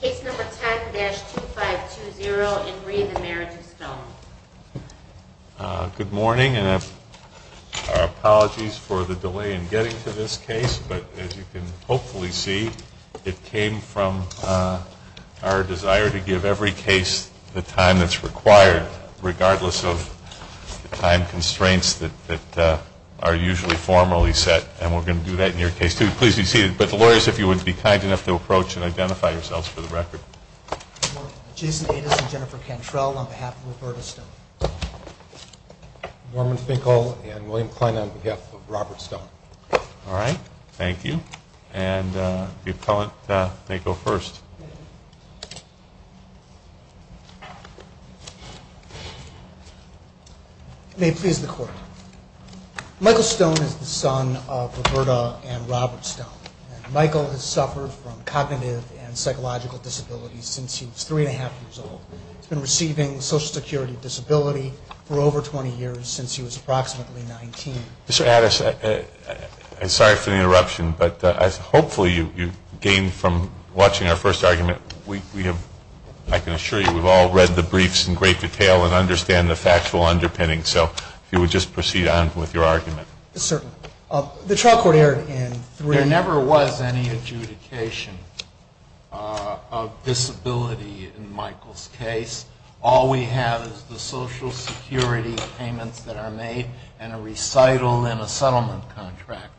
Case number 10-2520 and re the Marriage of Stone. Good morning and our apologies for the delay in getting to this case. But as you can hopefully see, it came from our desire to give every case the time that's required, regardless of the time constraints that are usually formally set. And we're going to do that in your case, too. Please be seated. But lawyers, if you would be kind enough to approach and identify yourselves for the record. Good morning. Jason Ades and Jennifer Cantrell on behalf of Roberta Stone. Norman Finkel and William Kline on behalf of Robert Stone. All right. Thank you. And the appellant may go first. You may please record. Michael Stone is the son of Roberta and Robert Stone. Michael has suffered from cognitive and psychological disabilities since he was three and a half years old. He's been receiving social security disability for over 20 years since he was approximately 19. Mr. Ades, I'm sorry for the interruption, but hopefully you gained from watching our first argument. I can assure you we've all read the briefs in great detail and understand the factual underpinning. So if you would just proceed on with your argument. Certainly. The trial court aired in three. There never was any adjudication of disability in Michael's case. All we have is the social security payments that are made and a recital and a settlement contract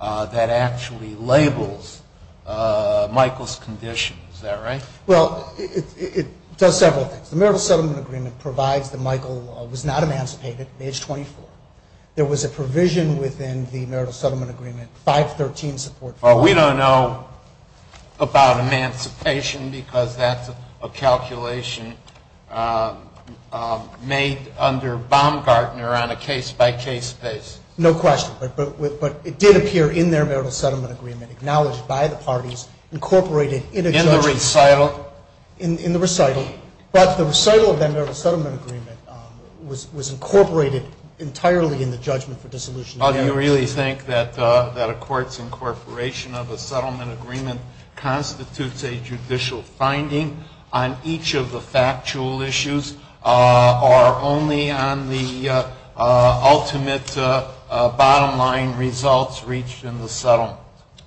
that actually labels Michael's condition. Is that right? Well, it does several things. The marital settlement agreement provides that Michael was not emancipated at age 24. There was a provision within the marital settlement agreement, 513 support for that. We don't know about emancipation because that's a calculation made under Baumgartner on a case-by-case basis. No question. But it did appear in their marital settlement agreement, acknowledged by the parties, incorporated in a judgment. In the recital? In the recital. But the recital of that marital settlement agreement was incorporated entirely in the judgment for dissolution of marriage. Do you really think that a court's incorporation of a settlement agreement constitutes a judicial finding on each of the factual issues or only on the ultimate bottom-line results reached in the settlement?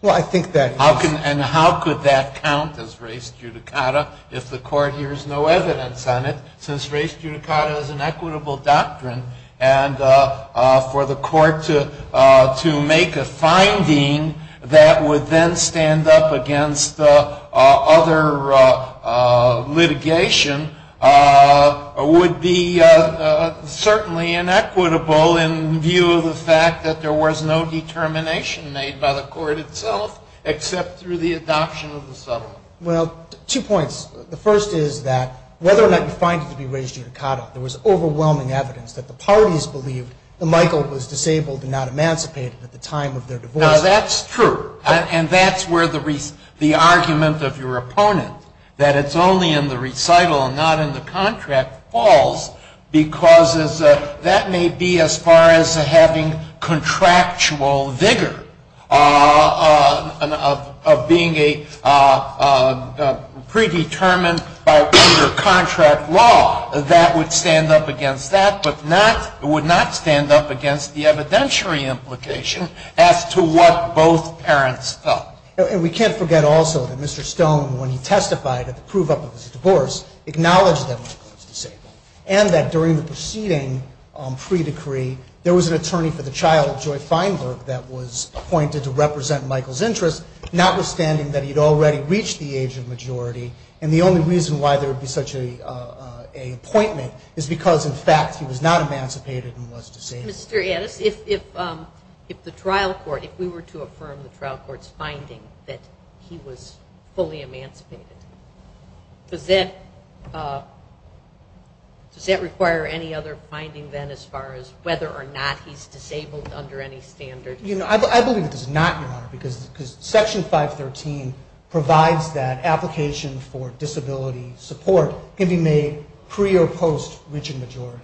Well, I think that is. And how could that count as race judicata if the court hears no evidence on it, since race judicata is an equitable doctrine? And for the court to make a finding that would then stand up against other litigation would be certainly inequitable in view of the fact that there was no determination made by the court itself except through the adoption of the settlement. Well, two points. The first is that whether or not you find it to be race judicata, there was overwhelming evidence that the parties believed that Michael was disabled and not emancipated at the time of their divorce. Now, that's true. And that's where the argument of your opponent, that it's only in the recital and not in the contract, falls, because that may be as far as having contractual vigor of being a predetermined by contract law. That would stand up against that, but would not stand up against the evidentiary implication as to what both parents felt. And we can't forget also that Mr. Stone, when he testified at the prove-up of his divorce, acknowledged that Michael was disabled and that during the proceeding pre-decree, there was an attorney for the child, Joy Feinberg, that was appointed to represent Michael's interests, notwithstanding that he had already reached the age of majority. And the only reason why there would be such an appointment is because, in fact, he was not emancipated and was disabled. Mr. Addis, if the trial court, if we were to affirm the trial court's finding that he was fully emancipated, does that require any other finding then as far as whether or not he's disabled under any standard? I believe it does not, Your Honor, because Section 513 provides that application for disability support, given a pre- or post-reaching majority.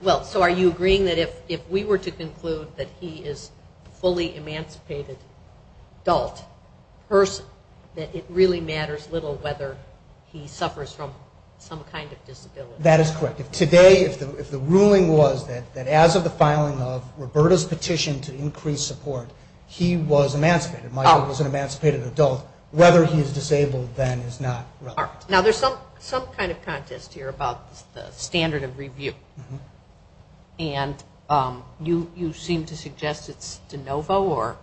Well, so are you agreeing that if we were to conclude that he is a fully emancipated adult person, that it really matters little whether he suffers from some kind of disability? That is correct. If today, if the ruling was that as of the filing of Roberta's petition to increase support, he was emancipated, Michael was an emancipated adult, whether he is disabled then is not relevant. All right. Now, there's some kind of contest here about the standard of review. And you seem to suggest it's de novo or?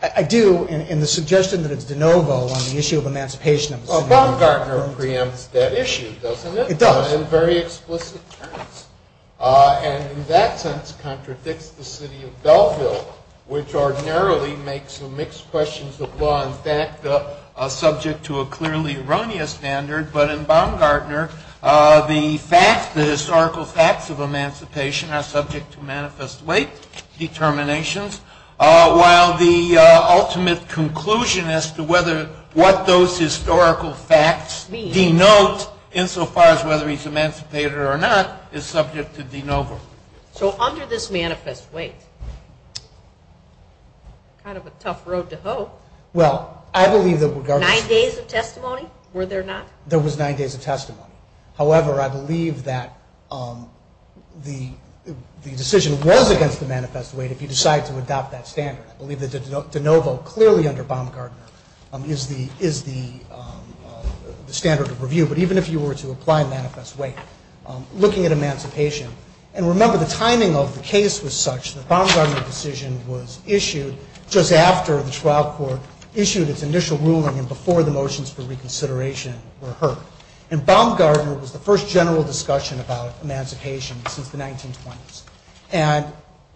I do. And the suggestion that it's de novo on the issue of emancipation of a single adult. Well, Baumgartner preempts that issue, doesn't it? It does. In very explicit terms. And in that sense, contradicts the city of Belleville, which ordinarily makes some mixed questions of law and fact subject to a clearly erroneous standard. But in Baumgartner, the facts, the historical facts of emancipation are subject to manifest weight determinations, while the ultimate conclusion as to whether what those historical facts denote insofar as whether he's emancipated or not, is subject to de novo. So under this manifest weight, kind of a tough road to hoe. Well, I believe that regardless of... Nine days of testimony, were there not? There was nine days of testimony. However, I believe that the decision was against the manifest weight if you decide to adopt that standard. I believe that de novo, clearly under Baumgartner, is the standard of review. But even if you were to apply manifest weight, looking at emancipation... And remember, the timing of the case was such that Baumgartner's decision was issued just after the trial court issued its initial ruling and before the motions for reconsideration were heard. And Baumgartner was the first general discussion about emancipation since the 1920s. And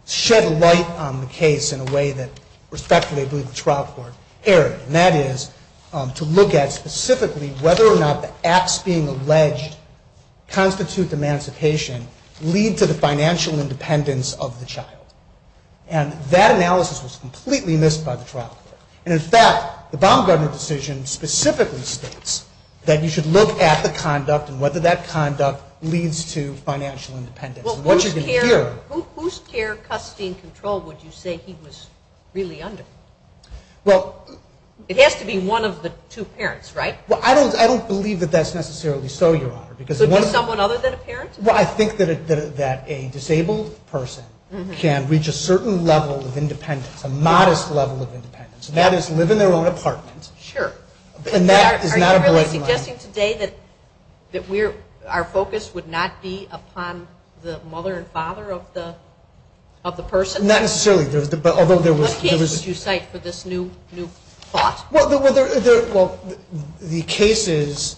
shed light on the case in a way that respectfully, I believe, the trial court erred. And that is to look at specifically whether or not the acts being alleged constitute emancipation, lead to the financial independence of the child. And that analysis was completely missed by the trial court. And in fact, the Baumgartner decision specifically states that you should look at the conduct and whether that conduct leads to financial independence. Whose care, custody, and control would you say he was really under? Well... It has to be one of the two parents, right? Well, I don't believe that that's necessarily so, Your Honor. So just someone other than a parent? Well, I think that a disabled person can reach a certain level of independence, a modest level of independence, and that is live in their own apartment. Sure. Are you really suggesting today that our focus would not be upon the mother and father of the person? Not necessarily. What cases would you cite for this new thought? Well, the cases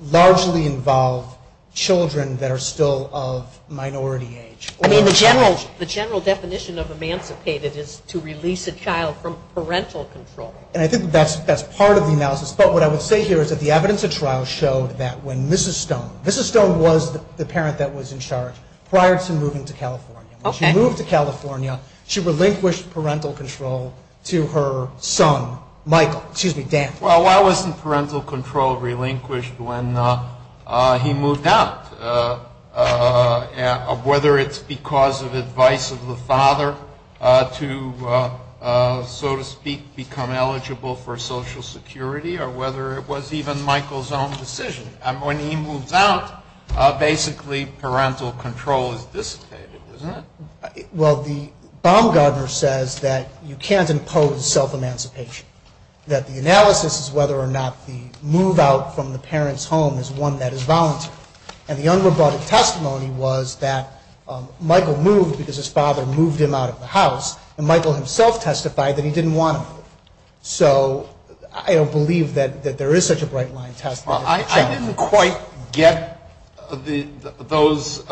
largely involve children that are still of minority age. I mean, the general definition of emancipated is to release a child from parental control. And I think that's part of the analysis. But what I would say here is that the evidence of trial showed that when Mrs. Stone, Mrs. Stone was the parent that was in charge prior to moving to California. Okay. When she moved to California, she relinquished parental control to her son, Michael. Excuse me, Dan. Well, why wasn't parental control relinquished when he moved out? Whether it's because of advice of the father to, so to speak, become eligible for Social Security, or whether it was even Michael's own decision. When he moves out, basically parental control is dissipated, isn't it? Well, Baumgartner says that you can't impose self-emancipation, that the analysis is whether or not the move out from the parent's home is one that is voluntary. And the unrobotic testimony was that Michael moved because his father moved him out of the house, and Michael himself testified that he didn't want to move. So I don't believe that there is such a bright-line testimony. Well, I didn't quite get those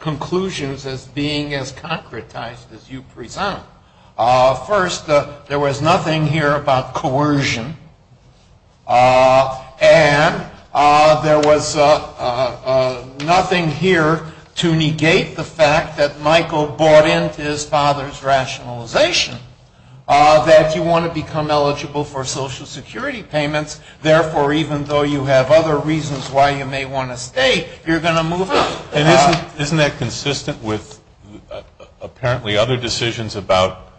conclusions as being as concretized as you present. First, there was nothing here about coercion, and there was nothing here to negate the fact that Michael bought into his father's rationalization that you want to become eligible for Social Security payments, therefore even though you have other reasons why you may want to stay, you're going to move out. Isn't that consistent with apparently other decisions about,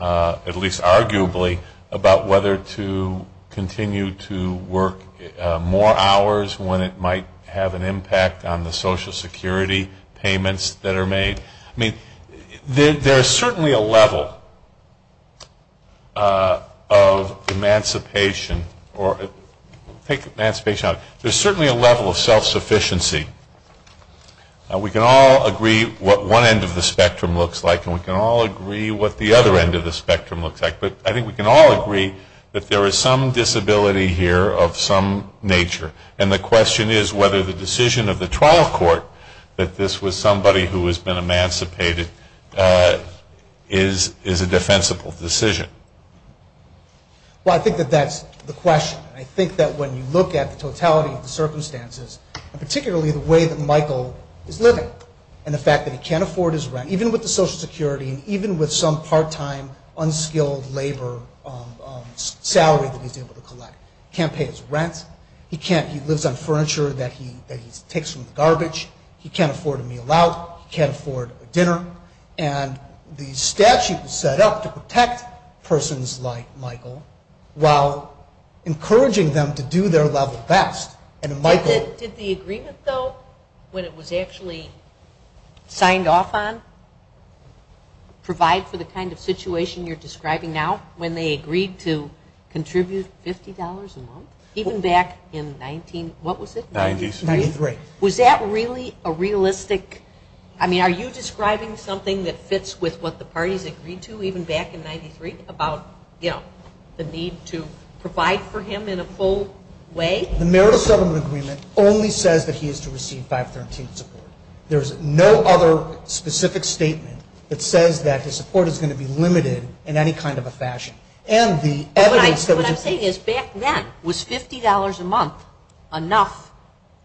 at least arguably, about whether to continue to work more hours when it might have an impact on the Social Security payments that are made? I mean, there's certainly a level of emancipation, or take emancipation out of it, there's certainly a level of self-sufficiency. We can all agree what one end of the spectrum looks like, and we can all agree what the other end of the spectrum looks like, but I think we can all agree that there is some disability here of some nature, and the question is whether the decision of the trial court that this was somebody who has been emancipated is a defensible decision. Well, I think that that's the question. I think that when you look at the totality of the circumstances, and particularly the way that Michael is living, and the fact that he can't afford his rent, even with the Social Security, and even with some part-time, unskilled labor salary that he's able to collect. He can't pay his rent. He lives on furniture that he takes from the garbage. He can't afford a meal out. He can't afford a dinner. And the statute was set up to protect persons like Michael, while encouraging them to do their level best. Did the agreement, though, when it was actually signed off on, provide for the kind of situation you're describing now, when they agreed to contribute $50 a month? Even back in 19, what was it? Ninety-three. Ninety-three. Was that really a realistic, I mean, are you describing something that fits with what the parties agreed to, even back in 93, about, you know, the need to provide for him in a full way? The Merit of Settlement Agreement only says that he is to receive 513 support. There's no other specific statement that says that his support is going to be limited in any kind of a fashion. And the evidence that was in front of him. What I'm saying is, back then, was $50 a month enough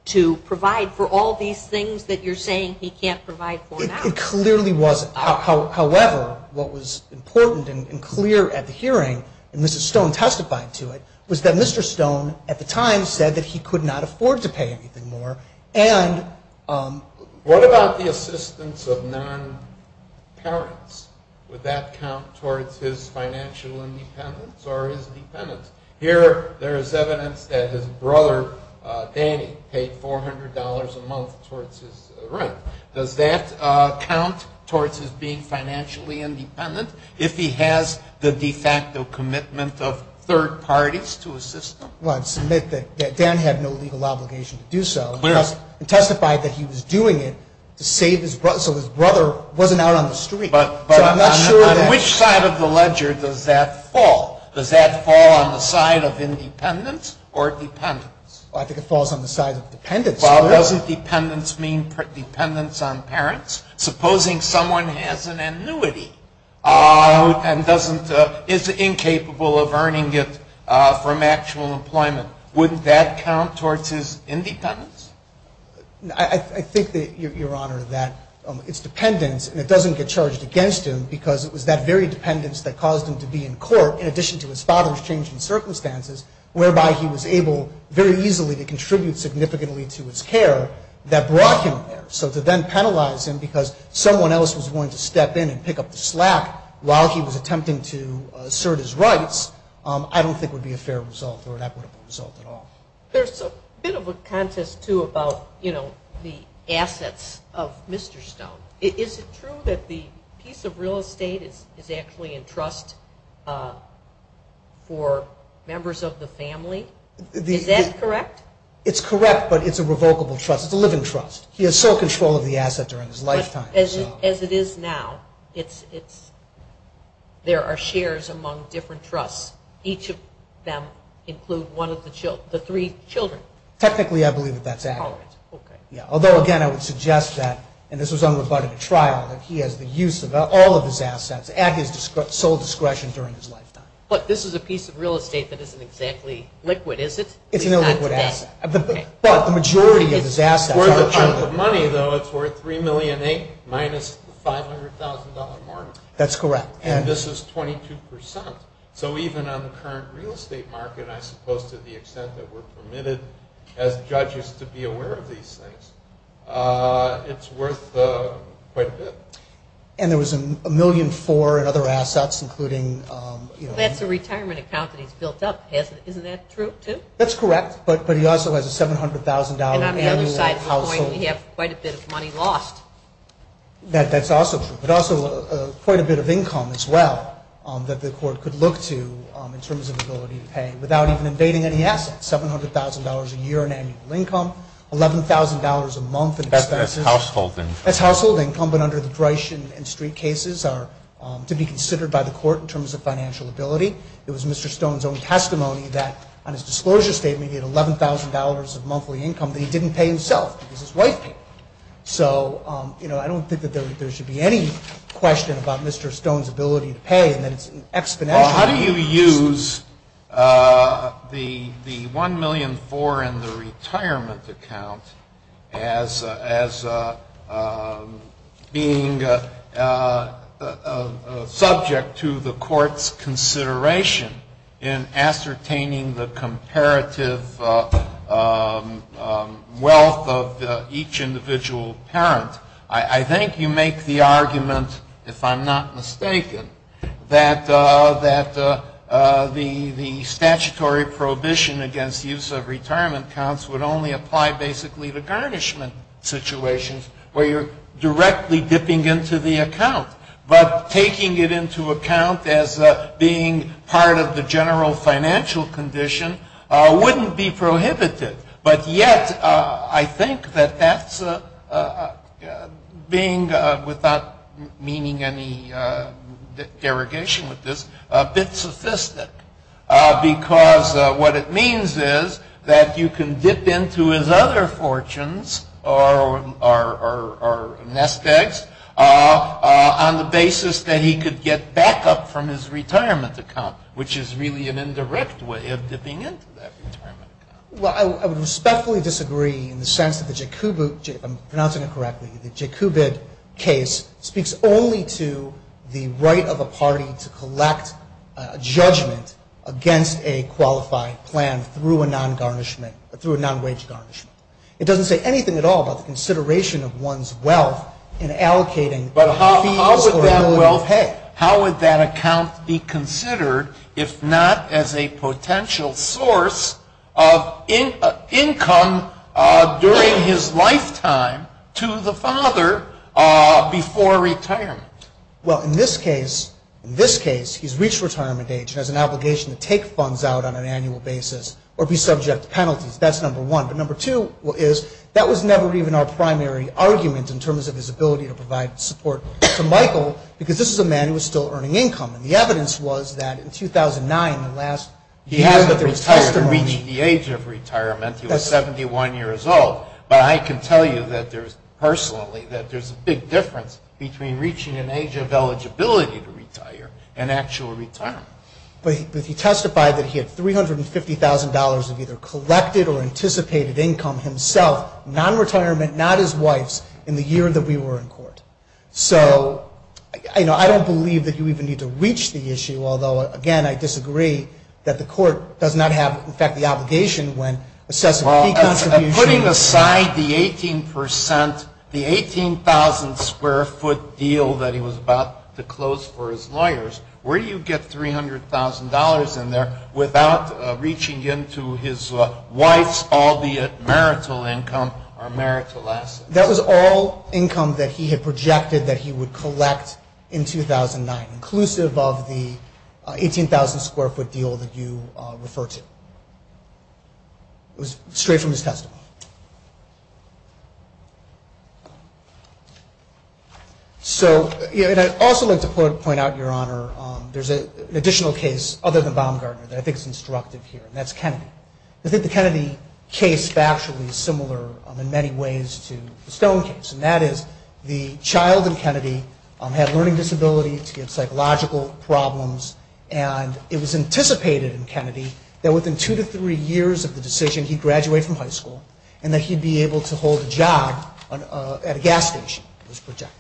to provide for all these things that you're saying he can't provide for now? It clearly wasn't. However, what was important and clear at the hearing, and Mr. Stone testified to it, was that Mr. Stone, at the time, said that he could not afford to pay anything more, and what about the assistance of non-parents? Would that count towards his financial independence or his dependence? Here, there is evidence that his brother, Danny, paid $400 a month towards his rent. Does that count towards his being financially independent, if he has the de facto commitment of third parties to assist him? Well, I'd submit that Dan had no legal obligation to do so. He testified that he was doing it to save his brother, so his brother wasn't out on the street. But on which side of the ledger does that fall? Does that fall on the side of independence or dependence? I think it falls on the side of dependence. Well, doesn't dependence mean dependence on parents? Supposing someone has an annuity and is incapable of earning it from actual employment, wouldn't that count towards his independence? I think, Your Honor, that it's dependence, and it doesn't get charged against him, because it was that very dependence that caused him to be in court, in addition to his father's change in circumstances, whereby he was able very easily to contribute significantly to his care that brought him there. So to then penalize him because someone else was willing to step in and pick up the slack while he was attempting to assert his rights, I don't think would be a fair result or an equitable result at all. There's a bit of a contest, too, about the assets of Mr. Stone. Is it true that the piece of real estate is actually in trust for members of the family? Is that correct? It's correct, but it's a revocable trust. It's a living trust. He has sole control of the asset during his lifetime. As it is now, there are shares among different trusts. Each of them include one of the three children. Technically, I believe that that's accurate. Although, again, I would suggest that, and this was on the butt of a trial, that he has the use of all of his assets at his sole discretion during his lifetime. But this is a piece of real estate that isn't exactly liquid, is it? It's an illiquid asset. But the majority of his assets are children. For the type of money, though, it's worth $3.8 million minus the $500,000 mark. That's correct. And this is 22%. So even on the current real estate market, I suppose to the extent that we're permitted, as judges, to be aware of these things, it's worth quite a bit. And there was $1.4 million in other assets, including… That's a retirement account that he's built up. Isn't that true, too? That's correct. But he also has a $700,000 annual household… And on the other side of the coin, we have quite a bit of money lost. That's also true. But also quite a bit of income as well that the Court could look to in terms of ability to pay without even invading any assets. $700,000 a year in annual income, $11,000 a month in expenses. That's household income. That's household income. But under the Drieschen and Street cases are to be considered by the Court in terms of financial ability. It was Mr. Stone's own testimony that on his disclosure statement he had $11,000 of monthly income that he didn't pay himself because his wife paid. So, you know, I don't think that there should be any question about Mr. Stone's ability to pay and that it's an exponential… Well, how do you use the $1.4 million in the retirement account as being subject to the Court's consideration in ascertaining the comparative wealth of each individual parent? I think you make the argument, if I'm not mistaken, that the statutory prohibition against use of retirement accounts would only apply basically to garnishment situations where you're directly dipping into the account. But taking it into account as being part of the general financial condition wouldn't be prohibited. But yet I think that that's being, without meaning any derogation with this, a bit sophisticated because what it means is that you can dip into his other could get backup from his retirement account, which is really an indirect way of dipping into that retirement account. Well, I would respectfully disagree in the sense that the Jacobid case speaks only to the right of a party to collect a judgment against a qualified plan through a non-wage garnishment. It doesn't say anything at all about the consideration of one's wealth in How would that account be considered if not as a potential source of income during his lifetime to the father before retirement? Well, in this case, he's reached retirement age and has an obligation to take funds out on an annual basis or be subject to penalties. That's number one. But number two is that was never even our primary argument in terms of his ability to provide support to Michael because this is a man who was still earning income. And the evidence was that in 2009, the last year that there was testimony He hadn't retired to reach the age of retirement. He was 71 years old. But I can tell you personally that there's a big difference between reaching an age of eligibility to retire and actual retirement. But he testified that he had $350,000 of either collected or anticipated income himself, non-retirement, not his wife's in the year that we were in court. So, you know, I don't believe that you even need to reach the issue, although, again, I disagree that the court does not have, in fact, the obligation when assessing fee contributions. Putting aside the 18 percent, the 18,000 square foot deal that he was about to close for his lawyers, where do you get $300,000 in there without reaching into his wife's all the marital income or marital assets? That was all income that he had projected that he would collect in 2009, inclusive of the 18,000 square foot deal that you refer to. It was straight from his testimony. So I'd also like to point out, Your Honor, there's an additional case other than Baumgartner that I think is instructive here. And that's Kennedy. I think the Kennedy case factually is similar in many ways to the Stone case. And that is the child in Kennedy had a learning disability. He had psychological problems. And it was anticipated in Kennedy that within two to three years of the decision, he'd graduate from high school and that he'd be able to hold a job at a gas station, it was projected.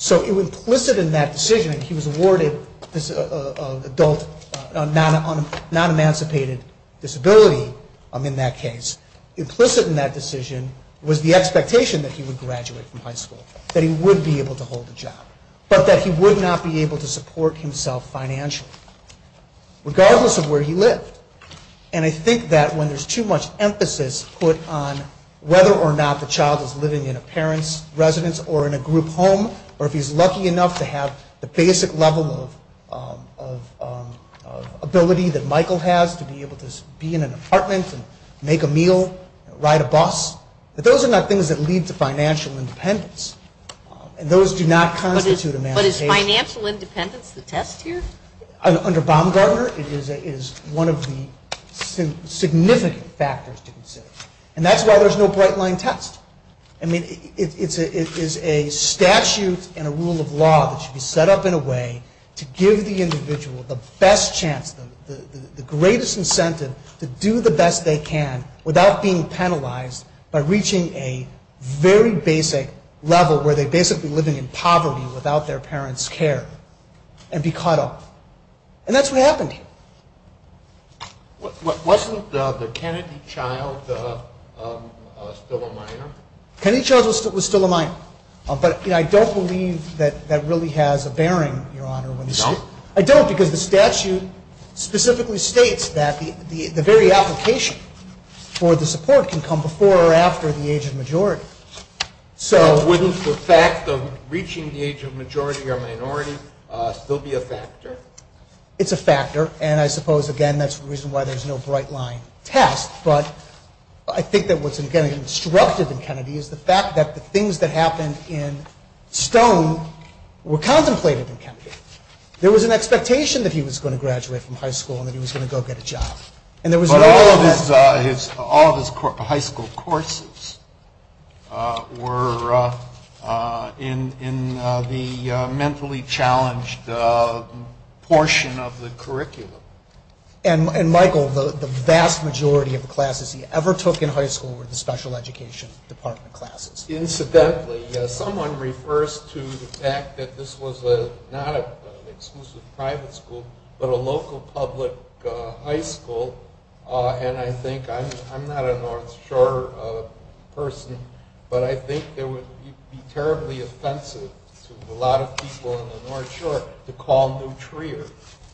So implicit in that decision, he was awarded this adult non-emancipated disability in that case. Implicit in that decision was the expectation that he would graduate from high school, that he would be able to hold a job, but that he would not be able to support himself financially, regardless of where he lived. And I think that when there's too much emphasis put on whether or not the child is able or if he's lucky enough to have the basic level of ability that Michael has to be able to be in an apartment and make a meal, ride a bus, that those are not things that lead to financial independence. And those do not constitute emancipation. But is financial independence the test here? Under Baumgartner, it is one of the significant factors to consider. And that's why there's no bright-line test. I mean, it is a statute and a rule of law that should be set up in a way to give the individual the best chance, the greatest incentive to do the best they can without being penalized by reaching a very basic level where they're basically living in poverty without their parents' care and be caught off. And that's what happened here. Wasn't the Kennedy child still a minor? Kennedy child was still a minor. But I don't believe that that really has a bearing, Your Honor. No? I don't, because the statute specifically states that the very application for the support can come before or after the age of majority. So wouldn't the fact of reaching the age of majority or minority still be a factor? It's a factor. And I suppose, again, that's the reason why there's no bright-line test. But I think that what's instructive in Kennedy is the fact that the things that happened in Stone were contemplated in Kennedy. There was an expectation that he was going to graduate from high school and that he was going to go get a job. But all of his high school courses were in the mentally challenged portion of the curriculum. And, Michael, the vast majority of the classes he ever took in high school were the special education department classes. Incidentally, someone refers to the fact that this was not an exclusive private high school but a local public high school. And I think – I'm not a North Shore person, but I think it would be terribly offensive to a lot of people in the North Shore to call Newtrier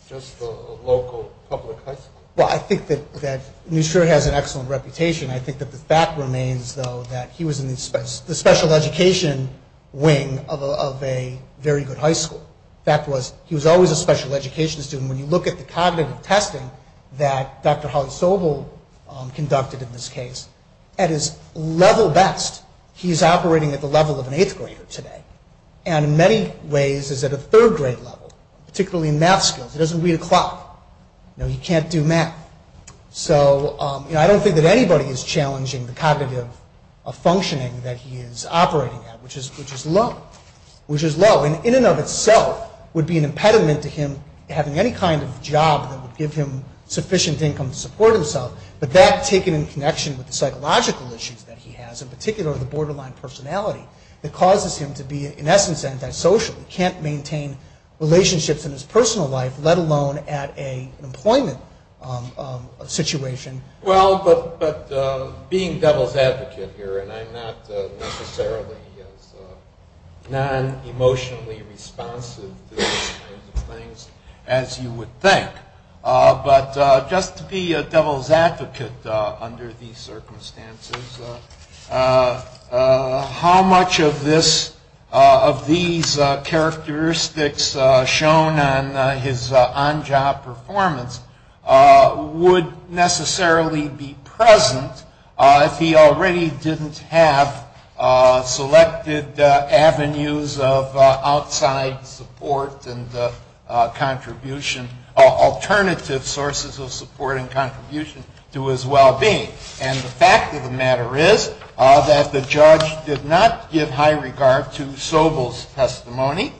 just a local public high school. Well, I think that Newtrier has an excellent reputation. I think that the fact remains, though, that he was in the special education wing of a very good high school. The fact was he was always a special education student. When you look at the cognitive testing that Dr. Holly Sobel conducted in this case, at his level best, he's operating at the level of an eighth grader today and in many ways is at a third grade level, particularly in math skills. He doesn't read a clock. He can't do math. So I don't think that anybody is challenging the cognitive functioning that he is operating at, which is low. And in and of itself would be an impediment to him having any kind of job that would give him sufficient income to support himself, but that taken in connection with the psychological issues that he has, in particular the borderline personality, that causes him to be in essence antisocial. He can't maintain relationships in his personal life, let alone at an employment situation. Well, but being devil's advocate here, and I'm not necessarily as non-emotionally responsive to these kinds of things as you would think, but just to be a devil's advocate under these circumstances, how much of these characteristics shown on his on-job performance would necessarily be present if he already didn't have selected avenues of outside support and alternative sources of support and contribution to his well-being. And the fact of the matter is that the judge did not give high regard to Sobel's testimony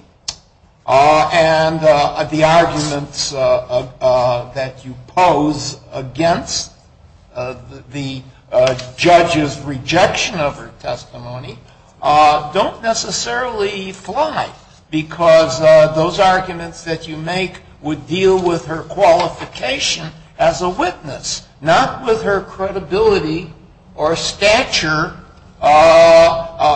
and the arguments that you pose against the judge's rejection of her testimony don't necessarily fly because those arguments that you make would deal with her qualification as a witness, not with her credibility or stature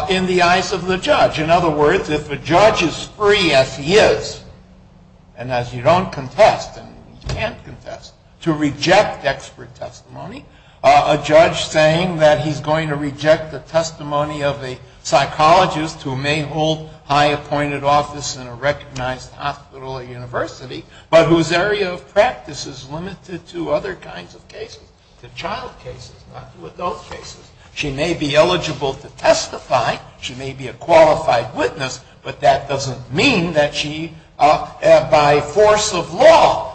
in the eyes of the judge. In other words, if a judge is free, as he is, and as you don't contest, and you can't contest, to reject expert testimony, a judge saying that he's going to reject the testimony of a psychologist who may hold high appointed office in a recognized hospital or university, but whose area of practice is limited to other kinds of cases, to child cases, not to adult cases, she may be eligible to testify, she may be a qualified witness, but that doesn't mean that she, by force of law,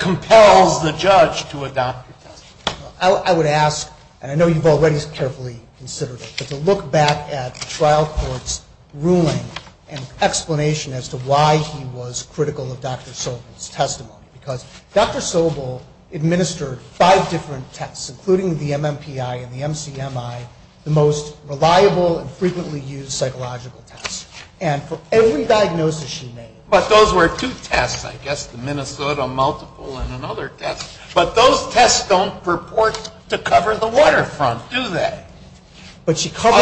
compels the judge to adopt her testimony. I would ask, and I know you've already carefully considered it, but to look back at the trial court's ruling and explanation as to why he was critical of Dr. Sobel's testimony, because Dr. Sobel administered five different tests, including the MMPI and the MCMI, the most reliable and frequently used psychological tests. And for every diagnosis she made... But those were two tests, I guess, the Minnesota multiple and another test. But those tests don't purport to cover the waterfront, do they? But she covered...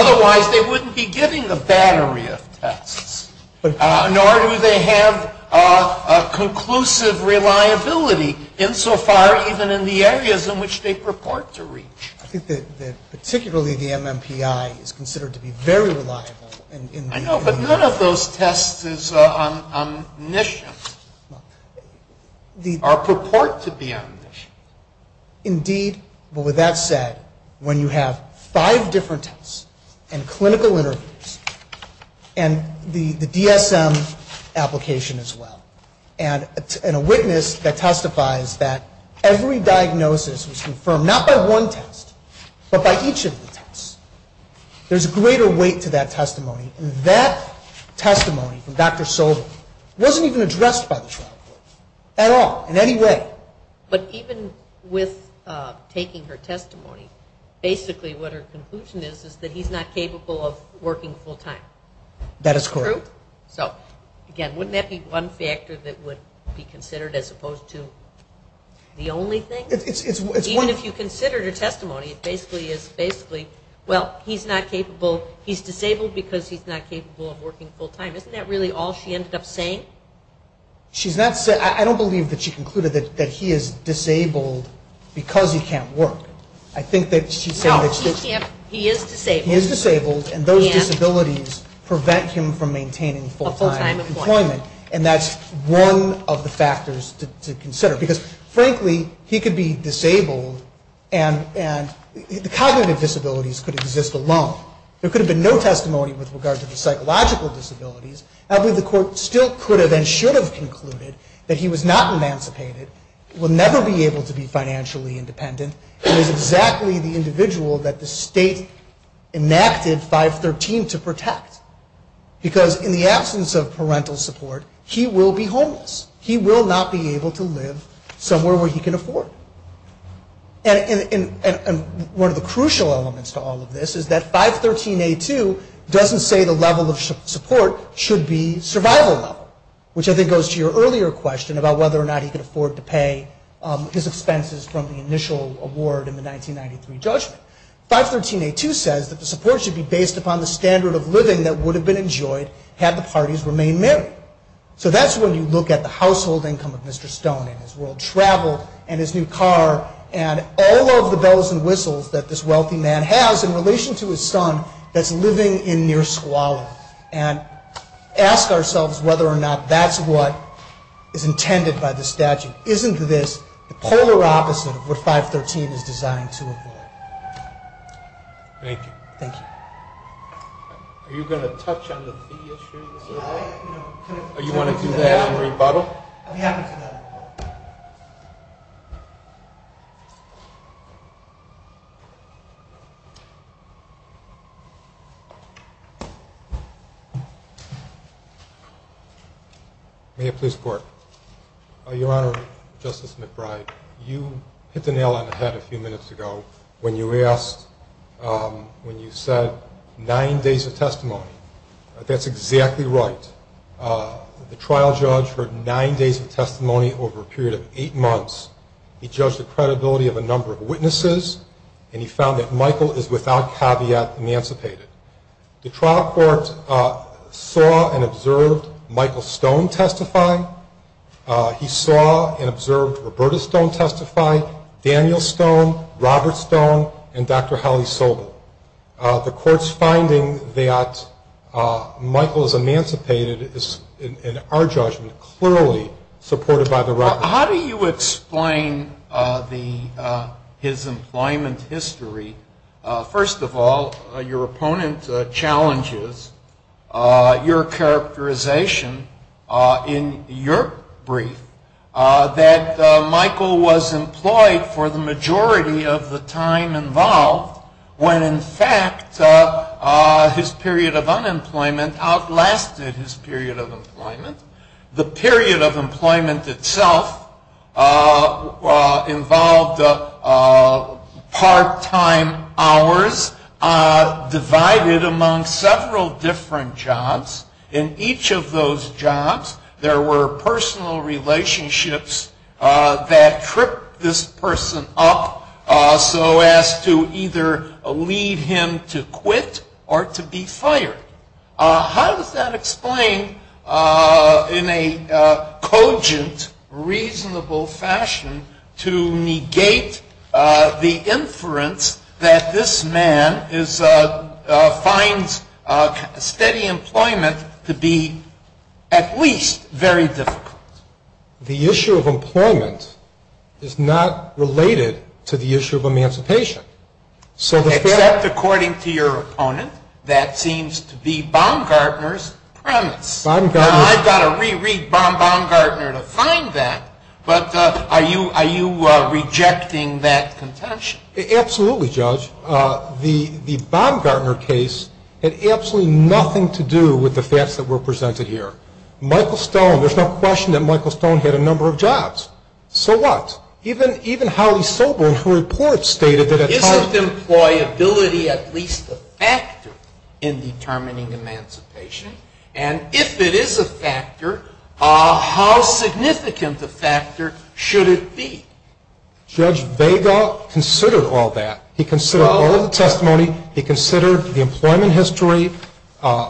insofar even in the areas in which they purport to reach. I think that particularly the MMPI is considered to be very reliable. I know, but none of those tests is omniscient, or purport to be omniscient. Indeed, but with that said, when you have five different tests and clinical interviews and the DSM application as well, and a witness that testifies that every diagnosis was confirmed, not by one test, but by each of the tests, there's a greater weight to that testimony. And that testimony from Dr. Sobel wasn't even addressed by the trial court at all, in any way. But even with taking her testimony, basically what her conclusion is, is that he's not capable of working full-time. That is correct. So, again, wouldn't that be one factor that would be considered as opposed to the only thing? Even if you considered her testimony, it basically is, well, he's disabled because he's not capable of working full-time. Isn't that really all she ended up saying? I don't believe that she concluded that he is disabled because he can't work. No, he is disabled. He is disabled, and those disabilities prevent him from maintaining full-time employment. And that's one of the factors to consider. Because, frankly, he could be disabled, and the cognitive disabilities could exist alone. There could have been no testimony with regard to the psychological disabilities. I believe the court still could have and should have concluded that he was not emancipated, will never be able to be financially independent, and is exactly the individual that the state enacted 513 to protect. Because in the absence of parental support, he will be homeless. He will not be able to live somewhere where he can afford. And one of the crucial elements to all of this is that 513A2 doesn't say the level of support should be survival level, which I think goes to your earlier question about whether or not he could afford to pay his expenses from the initial award in the 1993 judgment. 513A2 says that the support should be based upon the standard of living that would have been enjoyed had the parties remained married. So that's when you look at the household income of Mr. Stone and his world traveled and his new car and all of the bells and whistles that this wealthy man has in relation to his son that's living in near squalor and ask ourselves whether or not that's what is intended by the statute. Isn't this the polar opposite of what 513 is designed to avoid? Thank you. Thank you. Are you going to touch on the fee issue? Do you want to do that in rebuttal? May I please report? Your Honor, Justice McBride, you hit the nail on the head a few minutes ago when you asked, when you said nine days of testimony. That's exactly right. The trial judge heard nine days of testimony over a period of eight months. He judged the credibility of a number of witnesses, and he found that Michael is, without caveat, emancipated. The trial court saw and observed Michael Stone testify. He saw and observed Roberta Stone testify, Daniel Stone, Robert Stone, and Dr. Hallie Sobel. The court's finding that Michael is emancipated is, in our judgment, clearly supported by the record. How do you explain his employment history? First of all, your opponent challenges your characterization in your brief, that Michael was employed for the majority of the time involved, when in fact his period of unemployment outlasted his period of employment. The period of employment itself involved part-time hours divided among several different jobs. In each of those jobs, there were personal relationships that tripped this person up, so as to either lead him to quit or to be fired. How does that explain, in a cogent, reasonable fashion, to negate the inference that this man finds steady employment to be at least very difficult? The issue of employment is not related to the issue of emancipation. Except, according to your opponent, that seems to be Baumgartner's premise. Now, I've got to re-read Baumgartner to find that, but are you rejecting that contention? Absolutely, Judge. The Baumgartner case had absolutely nothing to do with the facts that were presented here. There's no question that Michael Stone had a number of jobs. So what? Even Howley Sobel, in her report, stated that at times... Isn't employability at least a factor in determining emancipation? And if it is a factor, how significant a factor should it be? Judge Vega considered all that. He considered all of the testimony. He considered the employment history.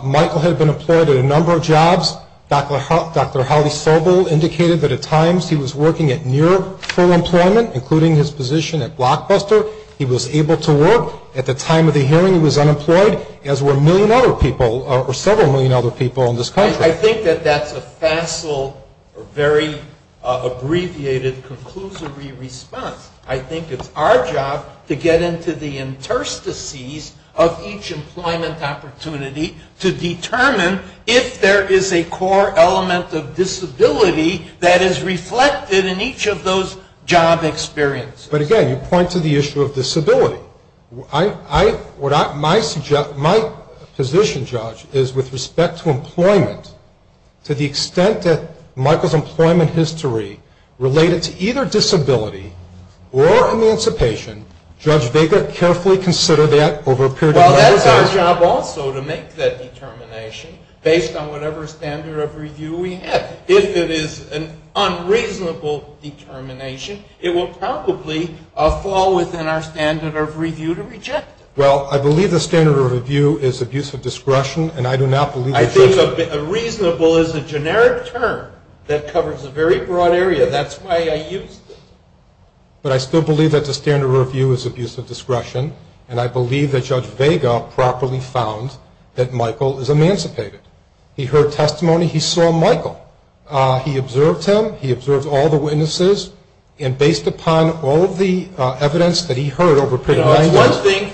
Michael had been employed at a number of jobs. Dr. Howley Sobel indicated that at times he was working at near full employment, including his position at Blockbuster. He was able to work. At the time of the hearing, he was unemployed, as were a million other people, or several million other people in this country. I think that that's a facile, very abbreviated, conclusory response. I think it's our job to get into the interstices of each employment opportunity to determine if there is a core element of disability that is reflected in each of those job experiences. But again, you point to the issue of disability. My position, Judge, is with respect to employment, to the extent that Michael's employment history related to either disability or emancipation, Judge Vega carefully considered that over a period of time. Well, that's our job also, to make that determination based on whatever standard of review we have. If it is an unreasonable determination, it will probably fall within our standard of review to reject it. Well, I believe the standard of review is abuse of discretion, and I do not believe that Judge Vega I think reasonable is a generic term that covers a very broad area. That's why I used it. But I still believe that the standard of review is abuse of discretion, and I believe that Judge Vega properly found that Michael is emancipated. He heard testimony. He saw Michael. He observed him. He observed all the witnesses. And based upon all of the evidence that he heard over a period of nine years. You know, it's one thing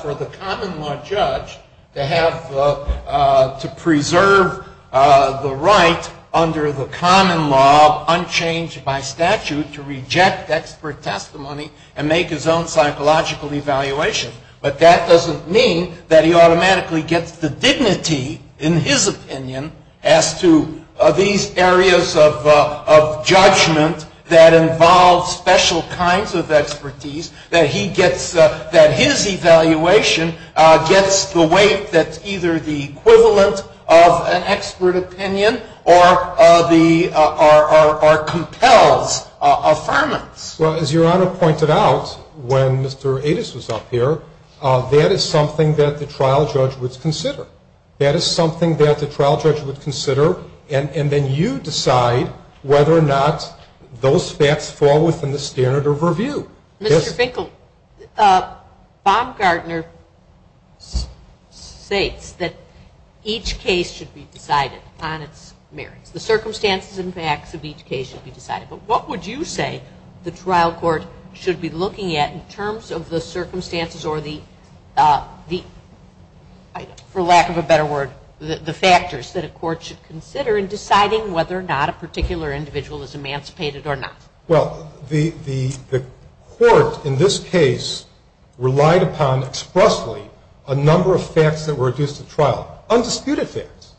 for the common law judge to preserve the right under the common law, unchanged by statute, to reject expert testimony and make his own psychological evaluation. But that doesn't mean that he automatically gets the dignity, in his opinion, as to these areas of judgment that involve special kinds of expertise, that his evaluation gets the weight that's either the equivalent of an expert opinion or compels affirmance. Well, as Your Honor pointed out, when Mr. Adas was up here, that is something that the trial judge would consider. That is something that the trial judge would consider, and then you decide whether or not those facts fall within the standard of review. Mr. Finkel, Bob Gardner states that each case should be decided on its merits. The circumstances and facts of each case should be decided. But what would you say the trial court should be looking at in terms of the circumstances or the, for lack of a better word, the factors that a court should consider in deciding whether or not a particular individual is emancipated or not? Well, the court in this case relied upon expressly a number of facts that were adduced at trial, undisputed facts.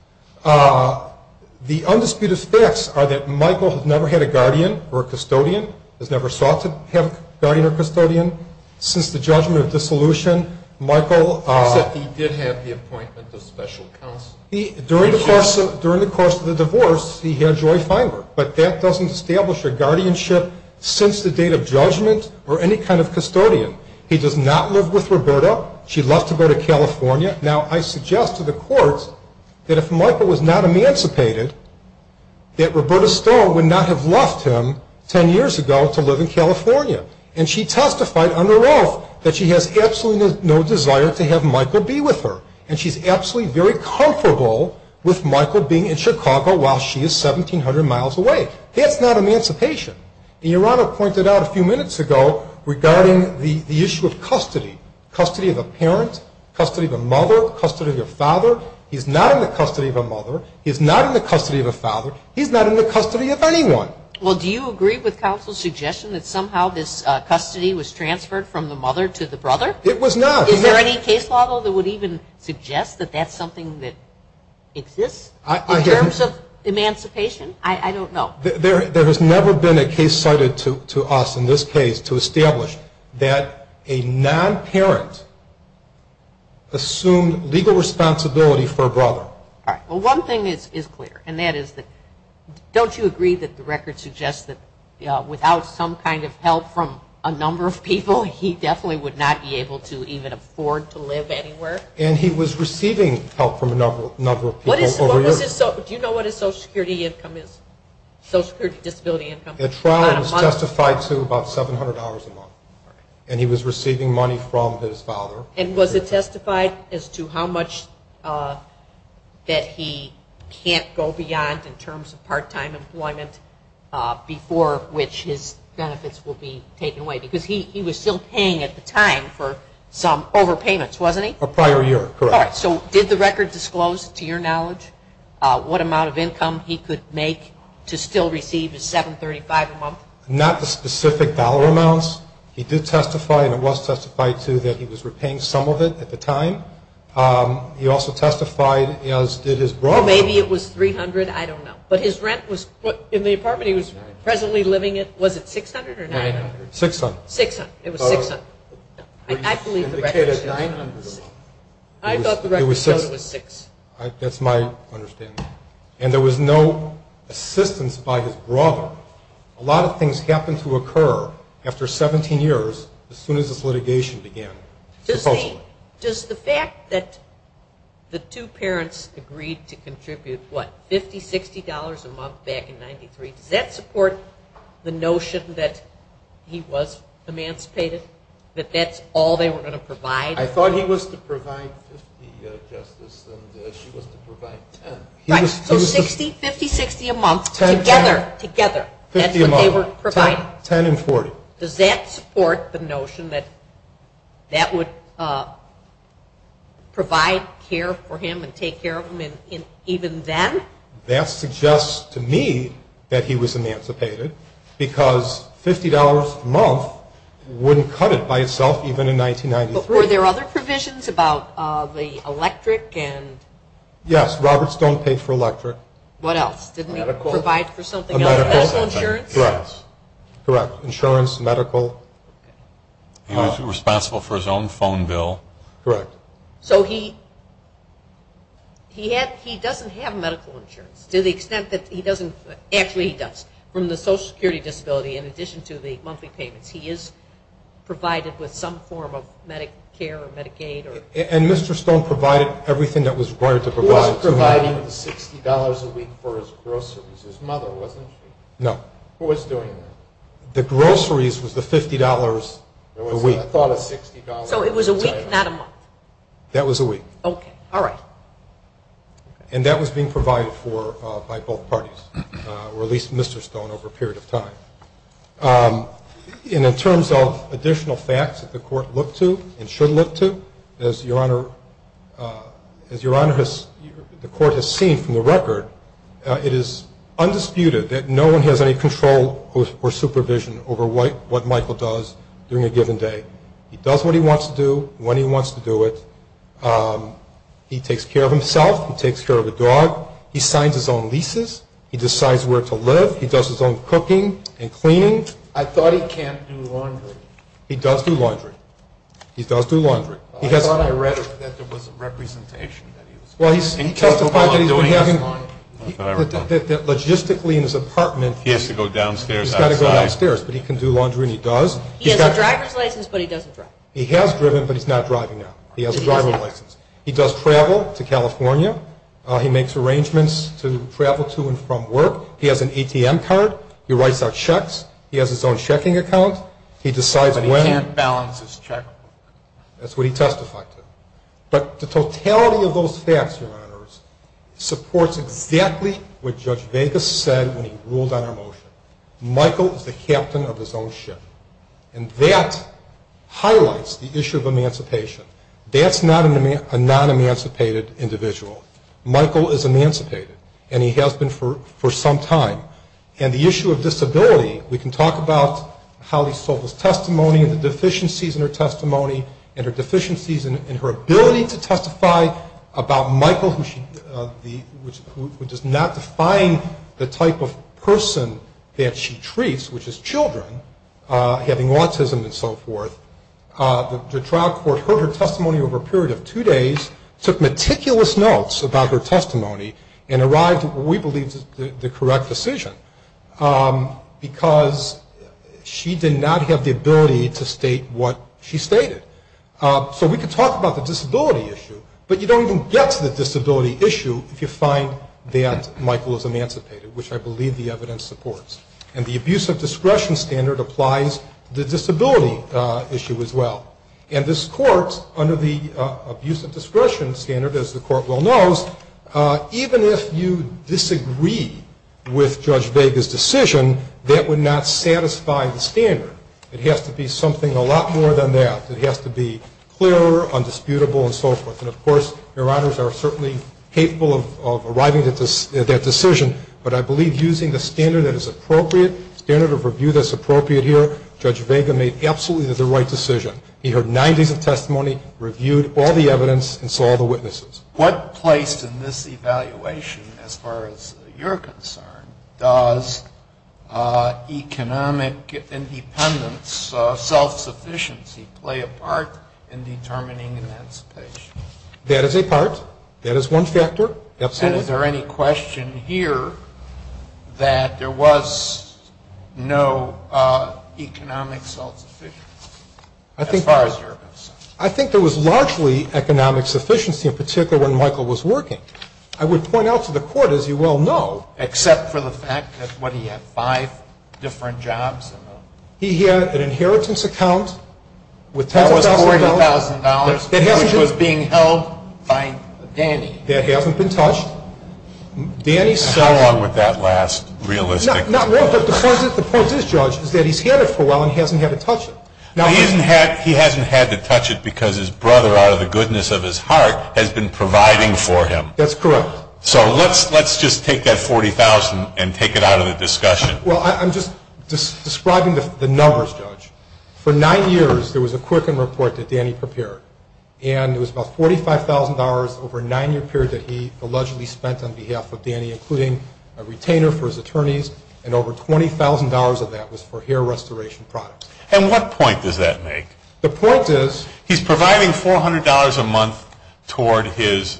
The undisputed facts are that Michael has never had a guardian or a custodian, has never sought to have a guardian or custodian. Since the judgment of dissolution, Michael… You said he did have the appointment of special counsel. During the course of the divorce, he had Joy Feinberg, but that doesn't establish a guardianship since the date of judgment or any kind of custodian. He does not live with Roberta. She left to go to California. Now, I suggest to the court that if Michael was not emancipated, that Roberta Stone would not have left him 10 years ago to live in California. And she testified under oath that she has absolutely no desire to have Michael be with her, and she's absolutely very comfortable with Michael being in Chicago while she is 1,700 miles away. That's not emancipation. Your Honor pointed out a few minutes ago regarding the issue of custody, custody of a parent, custody of a mother, custody of a father. He's not in the custody of a mother. He's not in the custody of a father. He's not in the custody of anyone. Well, do you agree with counsel's suggestion that somehow this custody was transferred from the mother to the brother? It was not. Is there any case law that would even suggest that that's something that exists in terms of emancipation? I don't know. There has never been a case cited to us in this case to establish that a non-parent assumed legal responsibility for a brother. All right. Well, one thing is clear, and that is that don't you agree that the record suggests that without some kind of help from a number of people, he definitely would not be able to even afford to live anywhere? And he was receiving help from a number of people over the years. Do you know what his Social Security income is, Social Security disability income? At trial it was testified to about $700 a month, and he was receiving money from his father. And was it testified as to how much that he can't go beyond in terms of part-time employment before which his benefits will be taken away? Because he was still paying at the time for some overpayments, wasn't he? A prior year, correct. All right. So did the record disclose, to your knowledge, what amount of income he could make to still receive his $735 a month? Not the specific dollar amounts. He did testify, and it was testified to, that he was repaying some of it at the time. He also testified as did his brother. Maybe it was $300. I don't know. But his rent in the apartment he was presently living in, was it $600 or $900? $600. $600. It was $600. He indicated $900 a month. I thought the record showed it was $600. That's my understanding. And there was no assistance by his brother. A lot of things happened to occur after 17 years as soon as this litigation began, supposedly. Does the fact that the two parents agreed to contribute, what, $50, $60 a month back in 1993, does that support the notion that he was emancipated, that that's all they were going to provide? I thought he was to provide $50, Justice, and she was to provide $10. Right. So $60, $50, $60 a month together. Together. That's what they were providing. $10 and $40. Does that support the notion that that would provide care for him and take care of him even then? That suggests to me that he was emancipated because $50 a month wouldn't cut it by itself even in 1993. But were there other provisions about the electric and? Yes. Roberts don't pay for electric. What else? Didn't he provide for something else? Medical insurance? Correct. Insurance, medical. He was responsible for his own phone bill. Correct. So he doesn't have medical insurance to the extent that he doesn't, actually he does, from the Social Security disability in addition to the monthly payments. He is provided with some form of Medicare or Medicaid. And Mr. Stone provided everything that was required to provide. He wasn't providing the $60 a week for his groceries. His mother wasn't. No. Who was doing that? The groceries was the $50 a week. I thought it was $60. So it was a week, not a month. That was a week. Okay. All right. And that was being provided for by both parties, or at least Mr. Stone over a period of time. And in terms of additional facts that the Court looked to and should look to, as Your Honor, the Court has seen from the record, it is undisputed that no one has any control or supervision over what Michael does during a given day. He does what he wants to do when he wants to do it. He takes care of himself. He takes care of the dog. He signs his own leases. He decides where to live. He does his own cooking and cleaning. He does do laundry. He does do laundry. I thought I read that there was a representation. Well, he testified that logistically in his apartment he has to go downstairs, but he can do laundry and he does. He has a driver's license, but he doesn't drive. He has driven, but he's not driving now. He has a driver's license. He does travel to California. He makes arrangements to travel to and from work. He has an ATM card. He writes out checks. He has his own checking account. He decides when. But he can't balance his check. That's what he testified to. But the totality of those facts, Your Honors, supports exactly what Judge Vegas said when he ruled on our motion. Michael is the captain of his own ship, and that highlights the issue of emancipation. That's not a non-emancipated individual. Michael is emancipated, and he has been for some time. And the issue of disability, we can talk about how he sold his testimony and the deficiencies in her testimony and her deficiencies in her ability to testify about Michael, who does not define the type of person that she treats, which is children, having autism and so forth. The trial court heard her testimony over a period of two days, took meticulous notes about her testimony, and arrived at what we believe is the correct decision because she did not have the ability to state what she stated. So we can talk about the disability issue, but you don't even get to the disability issue if you find that Michael is emancipated, which I believe the evidence supports. And the abuse of discretion standard applies to the disability issue as well. And this court, under the abuse of discretion standard, as the court well knows, even if you disagree with Judge Vega's decision, that would not satisfy the standard. It has to be something a lot more than that. It has to be clearer, undisputable, and so forth. And, of course, Your Honors are certainly capable of arriving at that decision, but I believe using the standard that is appropriate, standard of review that's appropriate here, Judge Vega made absolutely the right decision. He heard 90s of testimony, reviewed all the evidence, and saw the witnesses. What place in this evaluation, as far as you're concerned, does economic independence, self-sufficiency play a part in determining emancipation? That is a part. That is one factor. Absolutely. And is there any question here that there was no economic self-sufficiency as far as you're concerned? I think there was largely economic sufficiency, in particular when Michael was working. I would point out to the Court, as you well know. Except for the fact that, what, he had five different jobs? He had an inheritance account. That was $40,000, which was being held by Danny. That hasn't been touched. How long would that last, realistically? Not long, but the point is, Judge, is that he's had it for a while and hasn't had to touch it. He hasn't had to touch it because his brother, out of the goodness of his heart, has been providing for him. That's correct. So let's just take that $40,000 and take it out of the discussion. Well, I'm just describing the numbers, Judge. For nine years, there was a Quicken report that Danny prepared. And it was about $45,000 over a nine-year period that he allegedly spent on behalf of Danny, including a retainer for his attorneys, and over $20,000 of that was for hair restoration products. And what point does that make? The point is, he's providing $400 a month toward his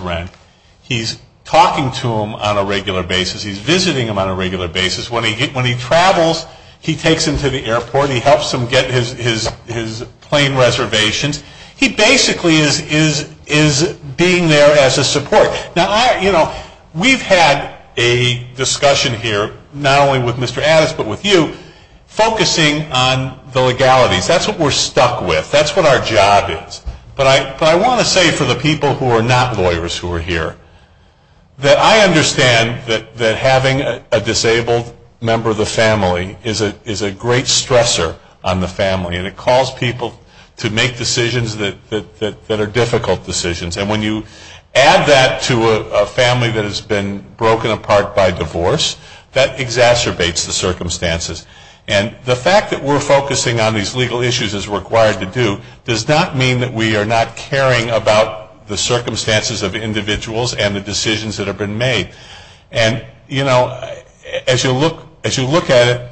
rent. He's talking to him on a regular basis. He's visiting him on a regular basis. When he travels, he takes him to the airport. He helps him get his plane reservations. He basically is being there as a support. We've had a discussion here, not only with Mr. Addis, but with you, focusing on the legalities. That's what we're stuck with. That's what our job is. But I want to say for the people who are not lawyers who are here, that I understand that having a disabled member of the family is a great stressor on the family. And it calls people to make decisions that are difficult decisions. And when you add that to a family that has been broken apart by divorce, that exacerbates the circumstances. And the fact that we're focusing on these legal issues as required to do does not mean that we are not caring about the circumstances of individuals and the decisions that have been made. And, you know, as you look at it,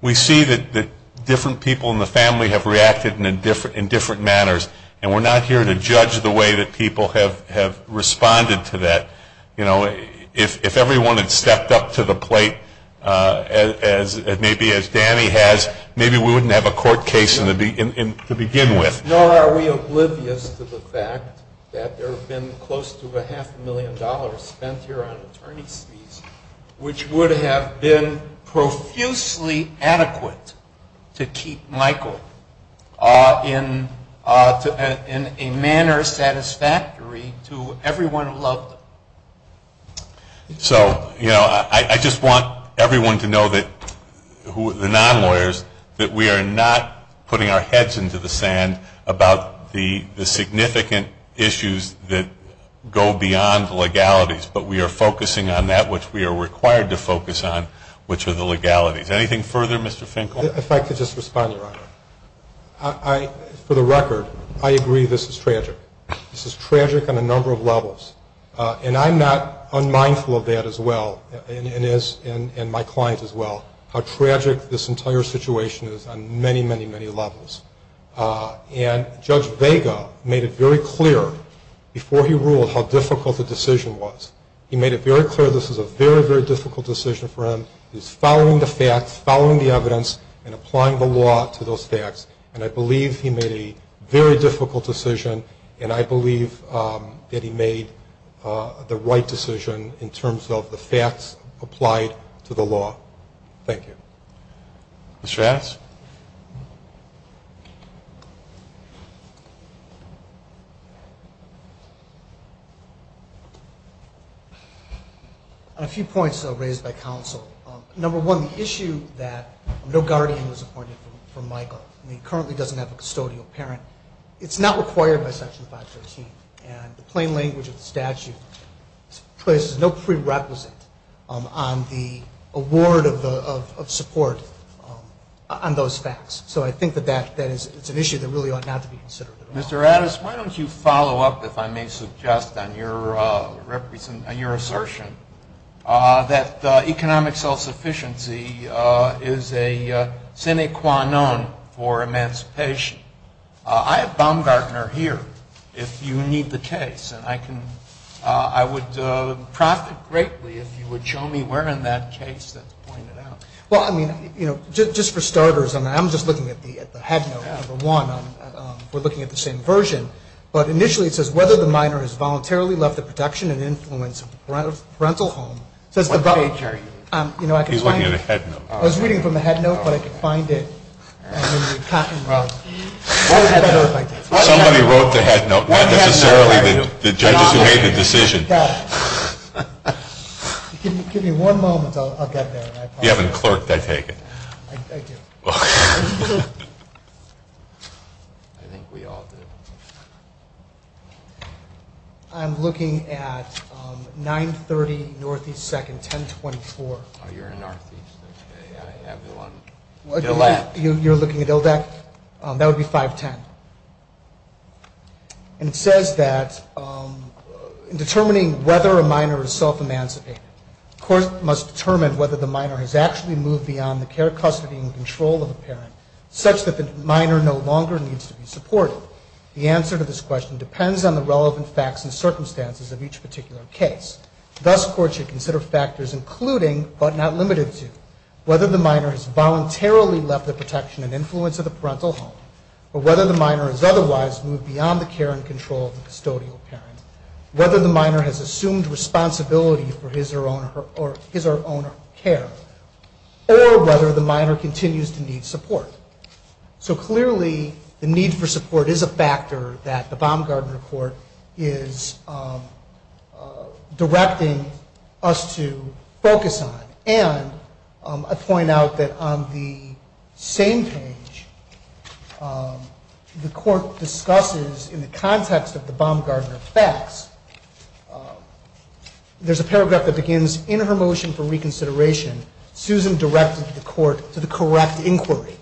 we see that different people in the family have reacted in different manners. And we're not here to judge the way that people have responded to that. You know, if everyone had stepped up to the plate maybe as Danny has, maybe we wouldn't have a court case to begin with. Nor are we oblivious to the fact that there have been close to a half a million dollars spent here on attorney's fees, which would have been profusely adequate to keep Michael in a manner satisfactory to everyone who loved him. So, you know, I just want everyone to know that, the non-lawyers, that we are not putting our heads into the sand about the significant issues that go beyond legalities. But we are focusing on that which we are required to focus on, which are the legalities. Anything further, Mr. Finkel? If I could just respond, Your Honor. For the record, I agree this is tragic. This is tragic on a number of levels. And I'm not unmindful of that as well, and my client as well, how tragic this entire situation is on many, many, many levels. And Judge Vega made it very clear before he ruled how difficult the decision was. He made it very clear this is a very, very difficult decision for him. He's following the facts, following the evidence, and applying the law to those facts. And I believe he made a very difficult decision, and I believe that he made the right decision in terms of the facts applied to the law. Thank you. Mr. Adams? A few points raised by counsel. Number one, the issue that no guardian was appointed for Michael, and he currently doesn't have a custodial parent, it's not required by Section 513. And the plain language of the statute places no prerequisite on the award of support on those facts. So I think that it's an issue that really ought not to be considered at all. Mr. Adams, why don't you follow up, if I may suggest, on your assertion that economic self-sufficiency is a sine qua non for emancipation. I have Baumgartner here if you need the case, and I would profit greatly if you would show me where in that case that's pointed out. Well, I mean, you know, just for starters, and I'm just looking at the headnote, number one. We're looking at the same version. But initially it says, whether the minor has voluntarily left the production and influence of the parental home. What page are you in? He's looking at a headnote. I was reading from the headnote, but I could find it. Somebody wrote the headnote, not necessarily the judges who made the decision. Give me one moment, I'll get there. You haven't clerked, I take it. I do. I think we all do. I'm looking at 930 Northeast 2nd, 1024. Oh, you're in Northeast, okay. You're looking at ILDAC? That would be 510. And it says that in determining whether a minor is self-emancipated, the court must determine whether the minor has actually moved beyond the care, custody, and control of the parent such that the minor no longer needs to be supported. The answer to this question depends on the relevant facts and circumstances of each particular case. Thus, courts should consider factors including, but not limited to, whether the minor has voluntarily left the protection and influence of the parental home, or whether the minor has otherwise moved beyond the care and control of the custodial parent, whether the minor has assumed responsibility for his or her own care, or whether the minor continues to need support. So clearly, the need for support is a factor that the Baumgartner Court is directing us to focus on. And I point out that on the same page, the court discusses in the context of the Baumgartner facts, there's a paragraph that begins, in her motion for reconsideration, Susan directed the court to the correct inquiry.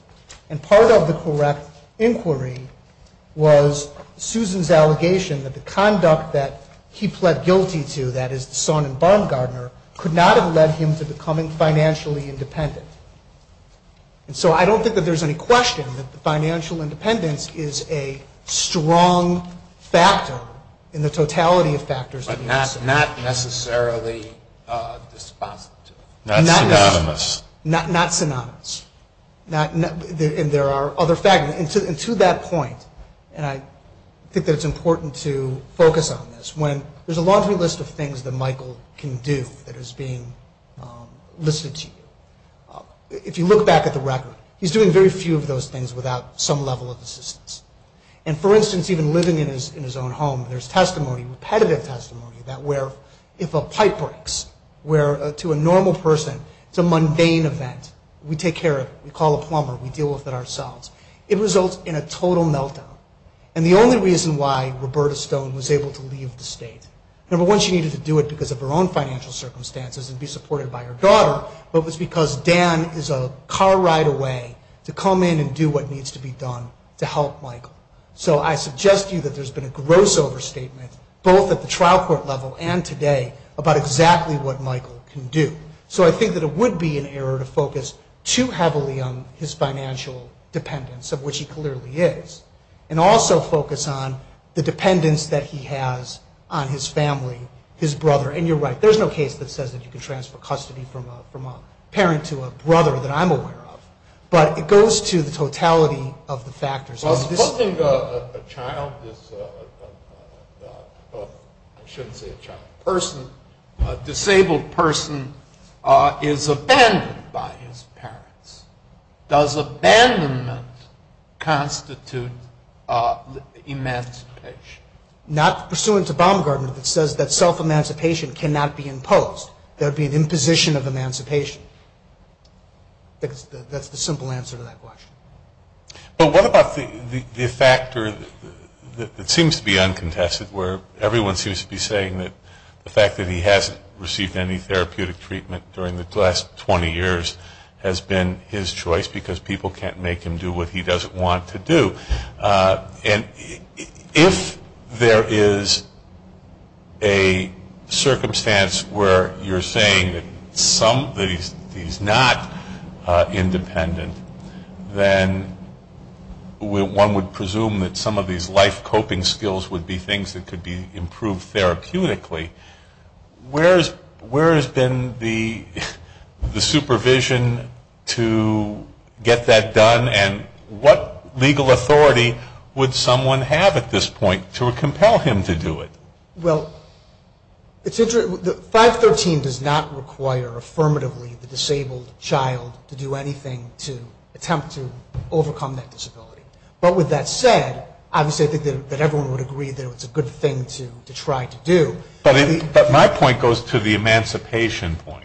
And part of the correct inquiry was Susan's allegation that the conduct that he pled guilty to, that is the son in Baumgartner, could not have led him to becoming financially independent. And so I don't think that there's any question that financial independence is a strong factor in the totality of factors. But not necessarily dispositive. Not synonymous. Not synonymous. And there are other factors. And to that point, and I think that it's important to focus on this, is when there's a laundry list of things that Michael can do that is being listed to you. If you look back at the record, he's doing very few of those things without some level of assistance. And for instance, even living in his own home, there's testimony, repetitive testimony, that where if a pipe breaks, where to a normal person, it's a mundane event, we take care of it, we call a plumber, we deal with it ourselves. It results in a total meltdown. And the only reason why Roberta Stone was able to leave the state, number one, she needed to do it because of her own financial circumstances and be supported by her daughter, but it was because Dan is a car ride away to come in and do what needs to be done to help Michael. So I suggest to you that there's been a gross overstatement, both at the trial court level and today, about exactly what Michael can do. So I think that it would be an error to focus too heavily on his financial dependence, of which he clearly is. And also focus on the dependence that he has on his family, his brother. And you're right, there's no case that says that you can transfer custody from a parent to a brother that I'm aware of. But it goes to the totality of the factors. Supposing a child is, I shouldn't say a child, a person, a disabled person is abandoned by his parents. Does abandonment constitute emancipation? Not pursuant to Baumgartner that says that self-emancipation cannot be imposed. There would be an imposition of emancipation. That's the simple answer to that question. But what about the factor that seems to be uncontested, where everyone seems to be saying that the fact that he hasn't received any therapeutic treatment during the last 20 years has been his choice because people can't make him do what he doesn't want to do. And if there is a circumstance where you're saying that he's not independent, then one would presume that some of these life coping skills would be things that could be improved therapeutically. Where has been the supervision to get that done? And what legal authority would someone have at this point to compel him to do it? Well, 513 does not require affirmatively the disabled child to do anything to attempt to overcome that disability. But with that said, obviously I think that everyone would agree that it's a good thing to try to do. But my point goes to the emancipation point.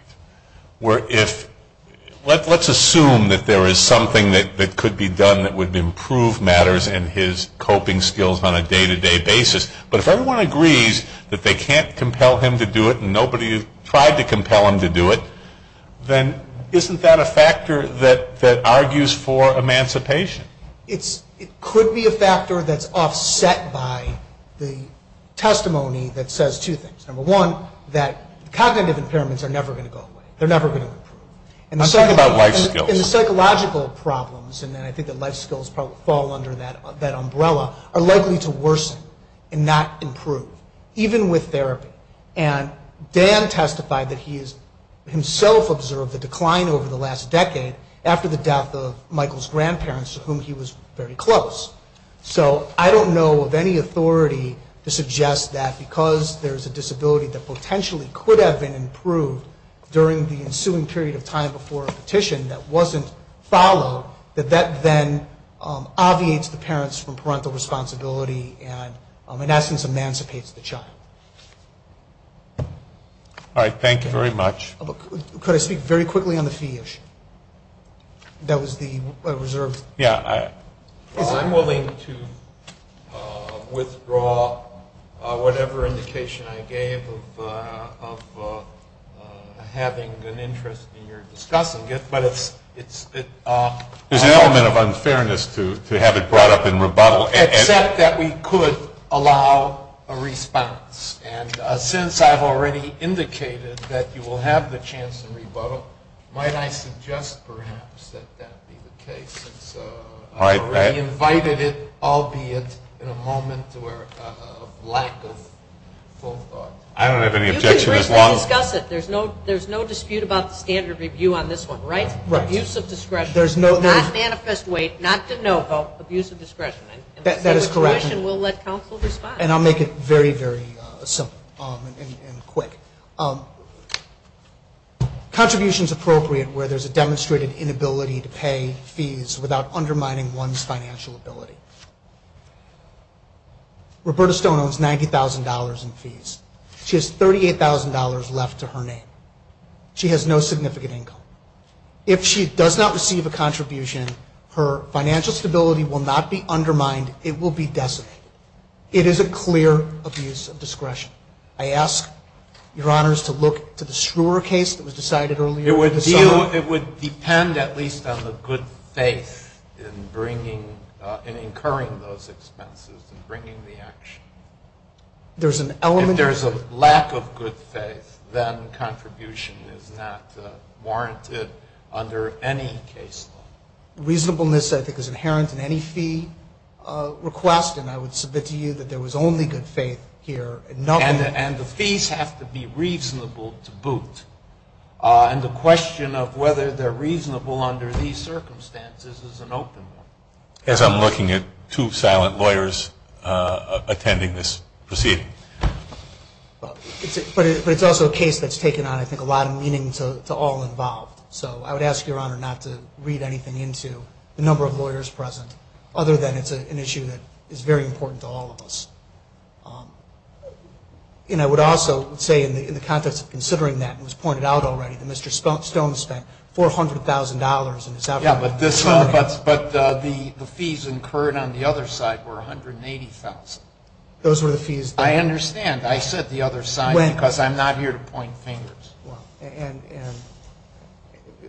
Let's assume that there is something that could be done that would improve matters in his coping skills on a day-to-day basis. But if everyone agrees that they can't compel him to do it and nobody tried to compel him to do it, then isn't that a factor that argues for emancipation? It could be a factor that's offset by the testimony that says two things. Number one, that cognitive impairments are never going to go away. They're never going to improve. I'm talking about life skills. And the psychological problems, and I think that life skills fall under that umbrella, are likely to worsen and not improve, even with therapy. And Dan testified that he himself observed a decline over the last decade after the death of Michael's grandparents, to whom he was very close. So I don't know of any authority to suggest that because there's a disability that potentially could have been improved during the ensuing period of time before a petition that wasn't followed, that that then obviates the parents from parental responsibility and, in essence, emancipates the child. All right, thank you very much. Could I speak very quickly on the fee issue? That was the reserve. Yeah. I'm willing to withdraw whatever indication I gave of having an interest in your discussing it, but it's ‑‑ There's an element of unfairness to have it brought up in rebuttal. Except that we could allow a response. And since I've already indicated that you will have the chance in rebuttal, might I suggest perhaps that that be the case? I've already invited it, albeit in a moment of lack of full thought. I don't have any objection as long as ‑‑ You can briefly discuss it. There's no dispute about the standard review on this one, right? Right. Abuse of discretion. There's no ‑‑ Not manifest weight, not de novo, abuse of discretion. That is correct. And we'll let counsel respond. And I'll make it very, very simple and quick. Contributions appropriate where there's a demonstrated inability to pay fees without undermining one's financial ability. Roberta Stone owns $90,000 in fees. She has $38,000 left to her name. She has no significant income. If she does not receive a contribution, her financial stability will not be undermined. It will be decimated. It is a clear abuse of discretion. I ask Your Honors to look to the Schreuer case that was decided earlier. It would depend at least on the good faith in bringing, in incurring those expenses and bringing the action. There's an element of ‑‑ If there's a lack of good faith, then contribution is not warranted under any case law. Reasonableness, I think, is inherent in any fee request. And I would submit to you that there was only good faith here. And the fees have to be reasonable to boot. And the question of whether they're reasonable under these circumstances is an open one. As I'm looking at two silent lawyers attending this proceeding. But it's also a case that's taken on, I think, a lot of meaning to all involved. So I would ask Your Honor not to read anything into the number of lawyers present. Other than it's an issue that is very important to all of us. And I would also say in the context of considering that, it was pointed out already that Mr. Stone spent $400,000. Yeah, but the fees incurred on the other side were $180,000. Those were the fees. I understand. I said the other side because I'm not here to point fingers.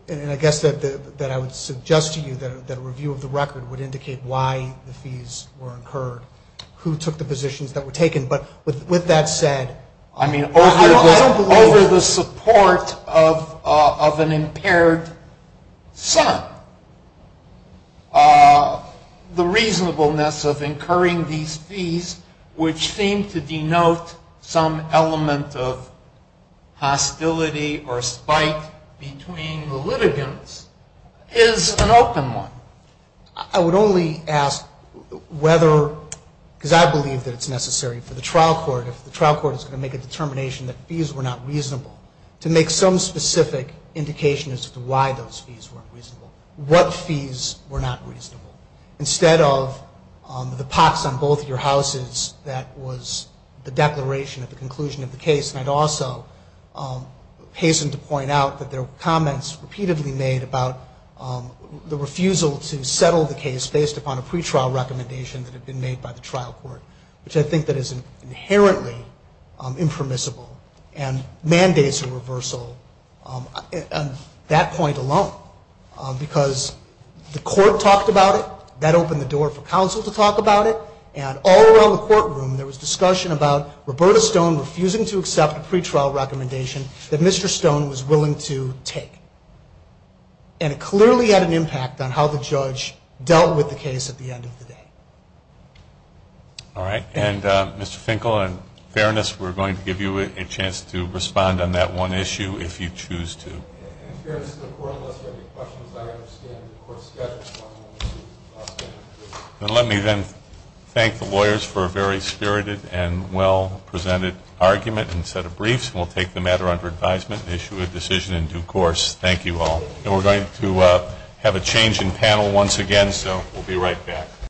And I guess that I would suggest to you that a review of the record would indicate why the fees were incurred, who took the positions that were taken. But with that said, I mean, over the support of an impaired son, the reasonableness of incurring these fees, which seem to denote some element of hostility or spite between the litigants, is an open one. I would only ask whether, because I believe that it's necessary for the trial court, if the trial court is going to make a determination that fees were not reasonable, to make some specific indication as to why those fees weren't reasonable, what fees were not reasonable. Instead of the pox on both your houses, that was the declaration at the conclusion of the case. And I'd also hasten to point out that there were comments repeatedly made about the refusal to settle the case based upon a pretrial recommendation that had been made by the trial court, which I think that is inherently impermissible and mandates a reversal. And that point alone, because the court talked about it, that opened the door for counsel to talk about it, and all around the courtroom there was discussion about Roberta Stone refusing to accept a pretrial recommendation that Mr. Stone was willing to take. And it clearly had an impact on how the judge dealt with the case at the end of the day. And, of course, we're going to give you a chance to respond on that one issue if you choose to. Let me then thank the lawyers for a very spirited and well-presented argument and set of briefs, and we'll take the matter under advisement and issue a decision in due course. Thank you all. We're going to have a change in panel once again, so we'll be right back.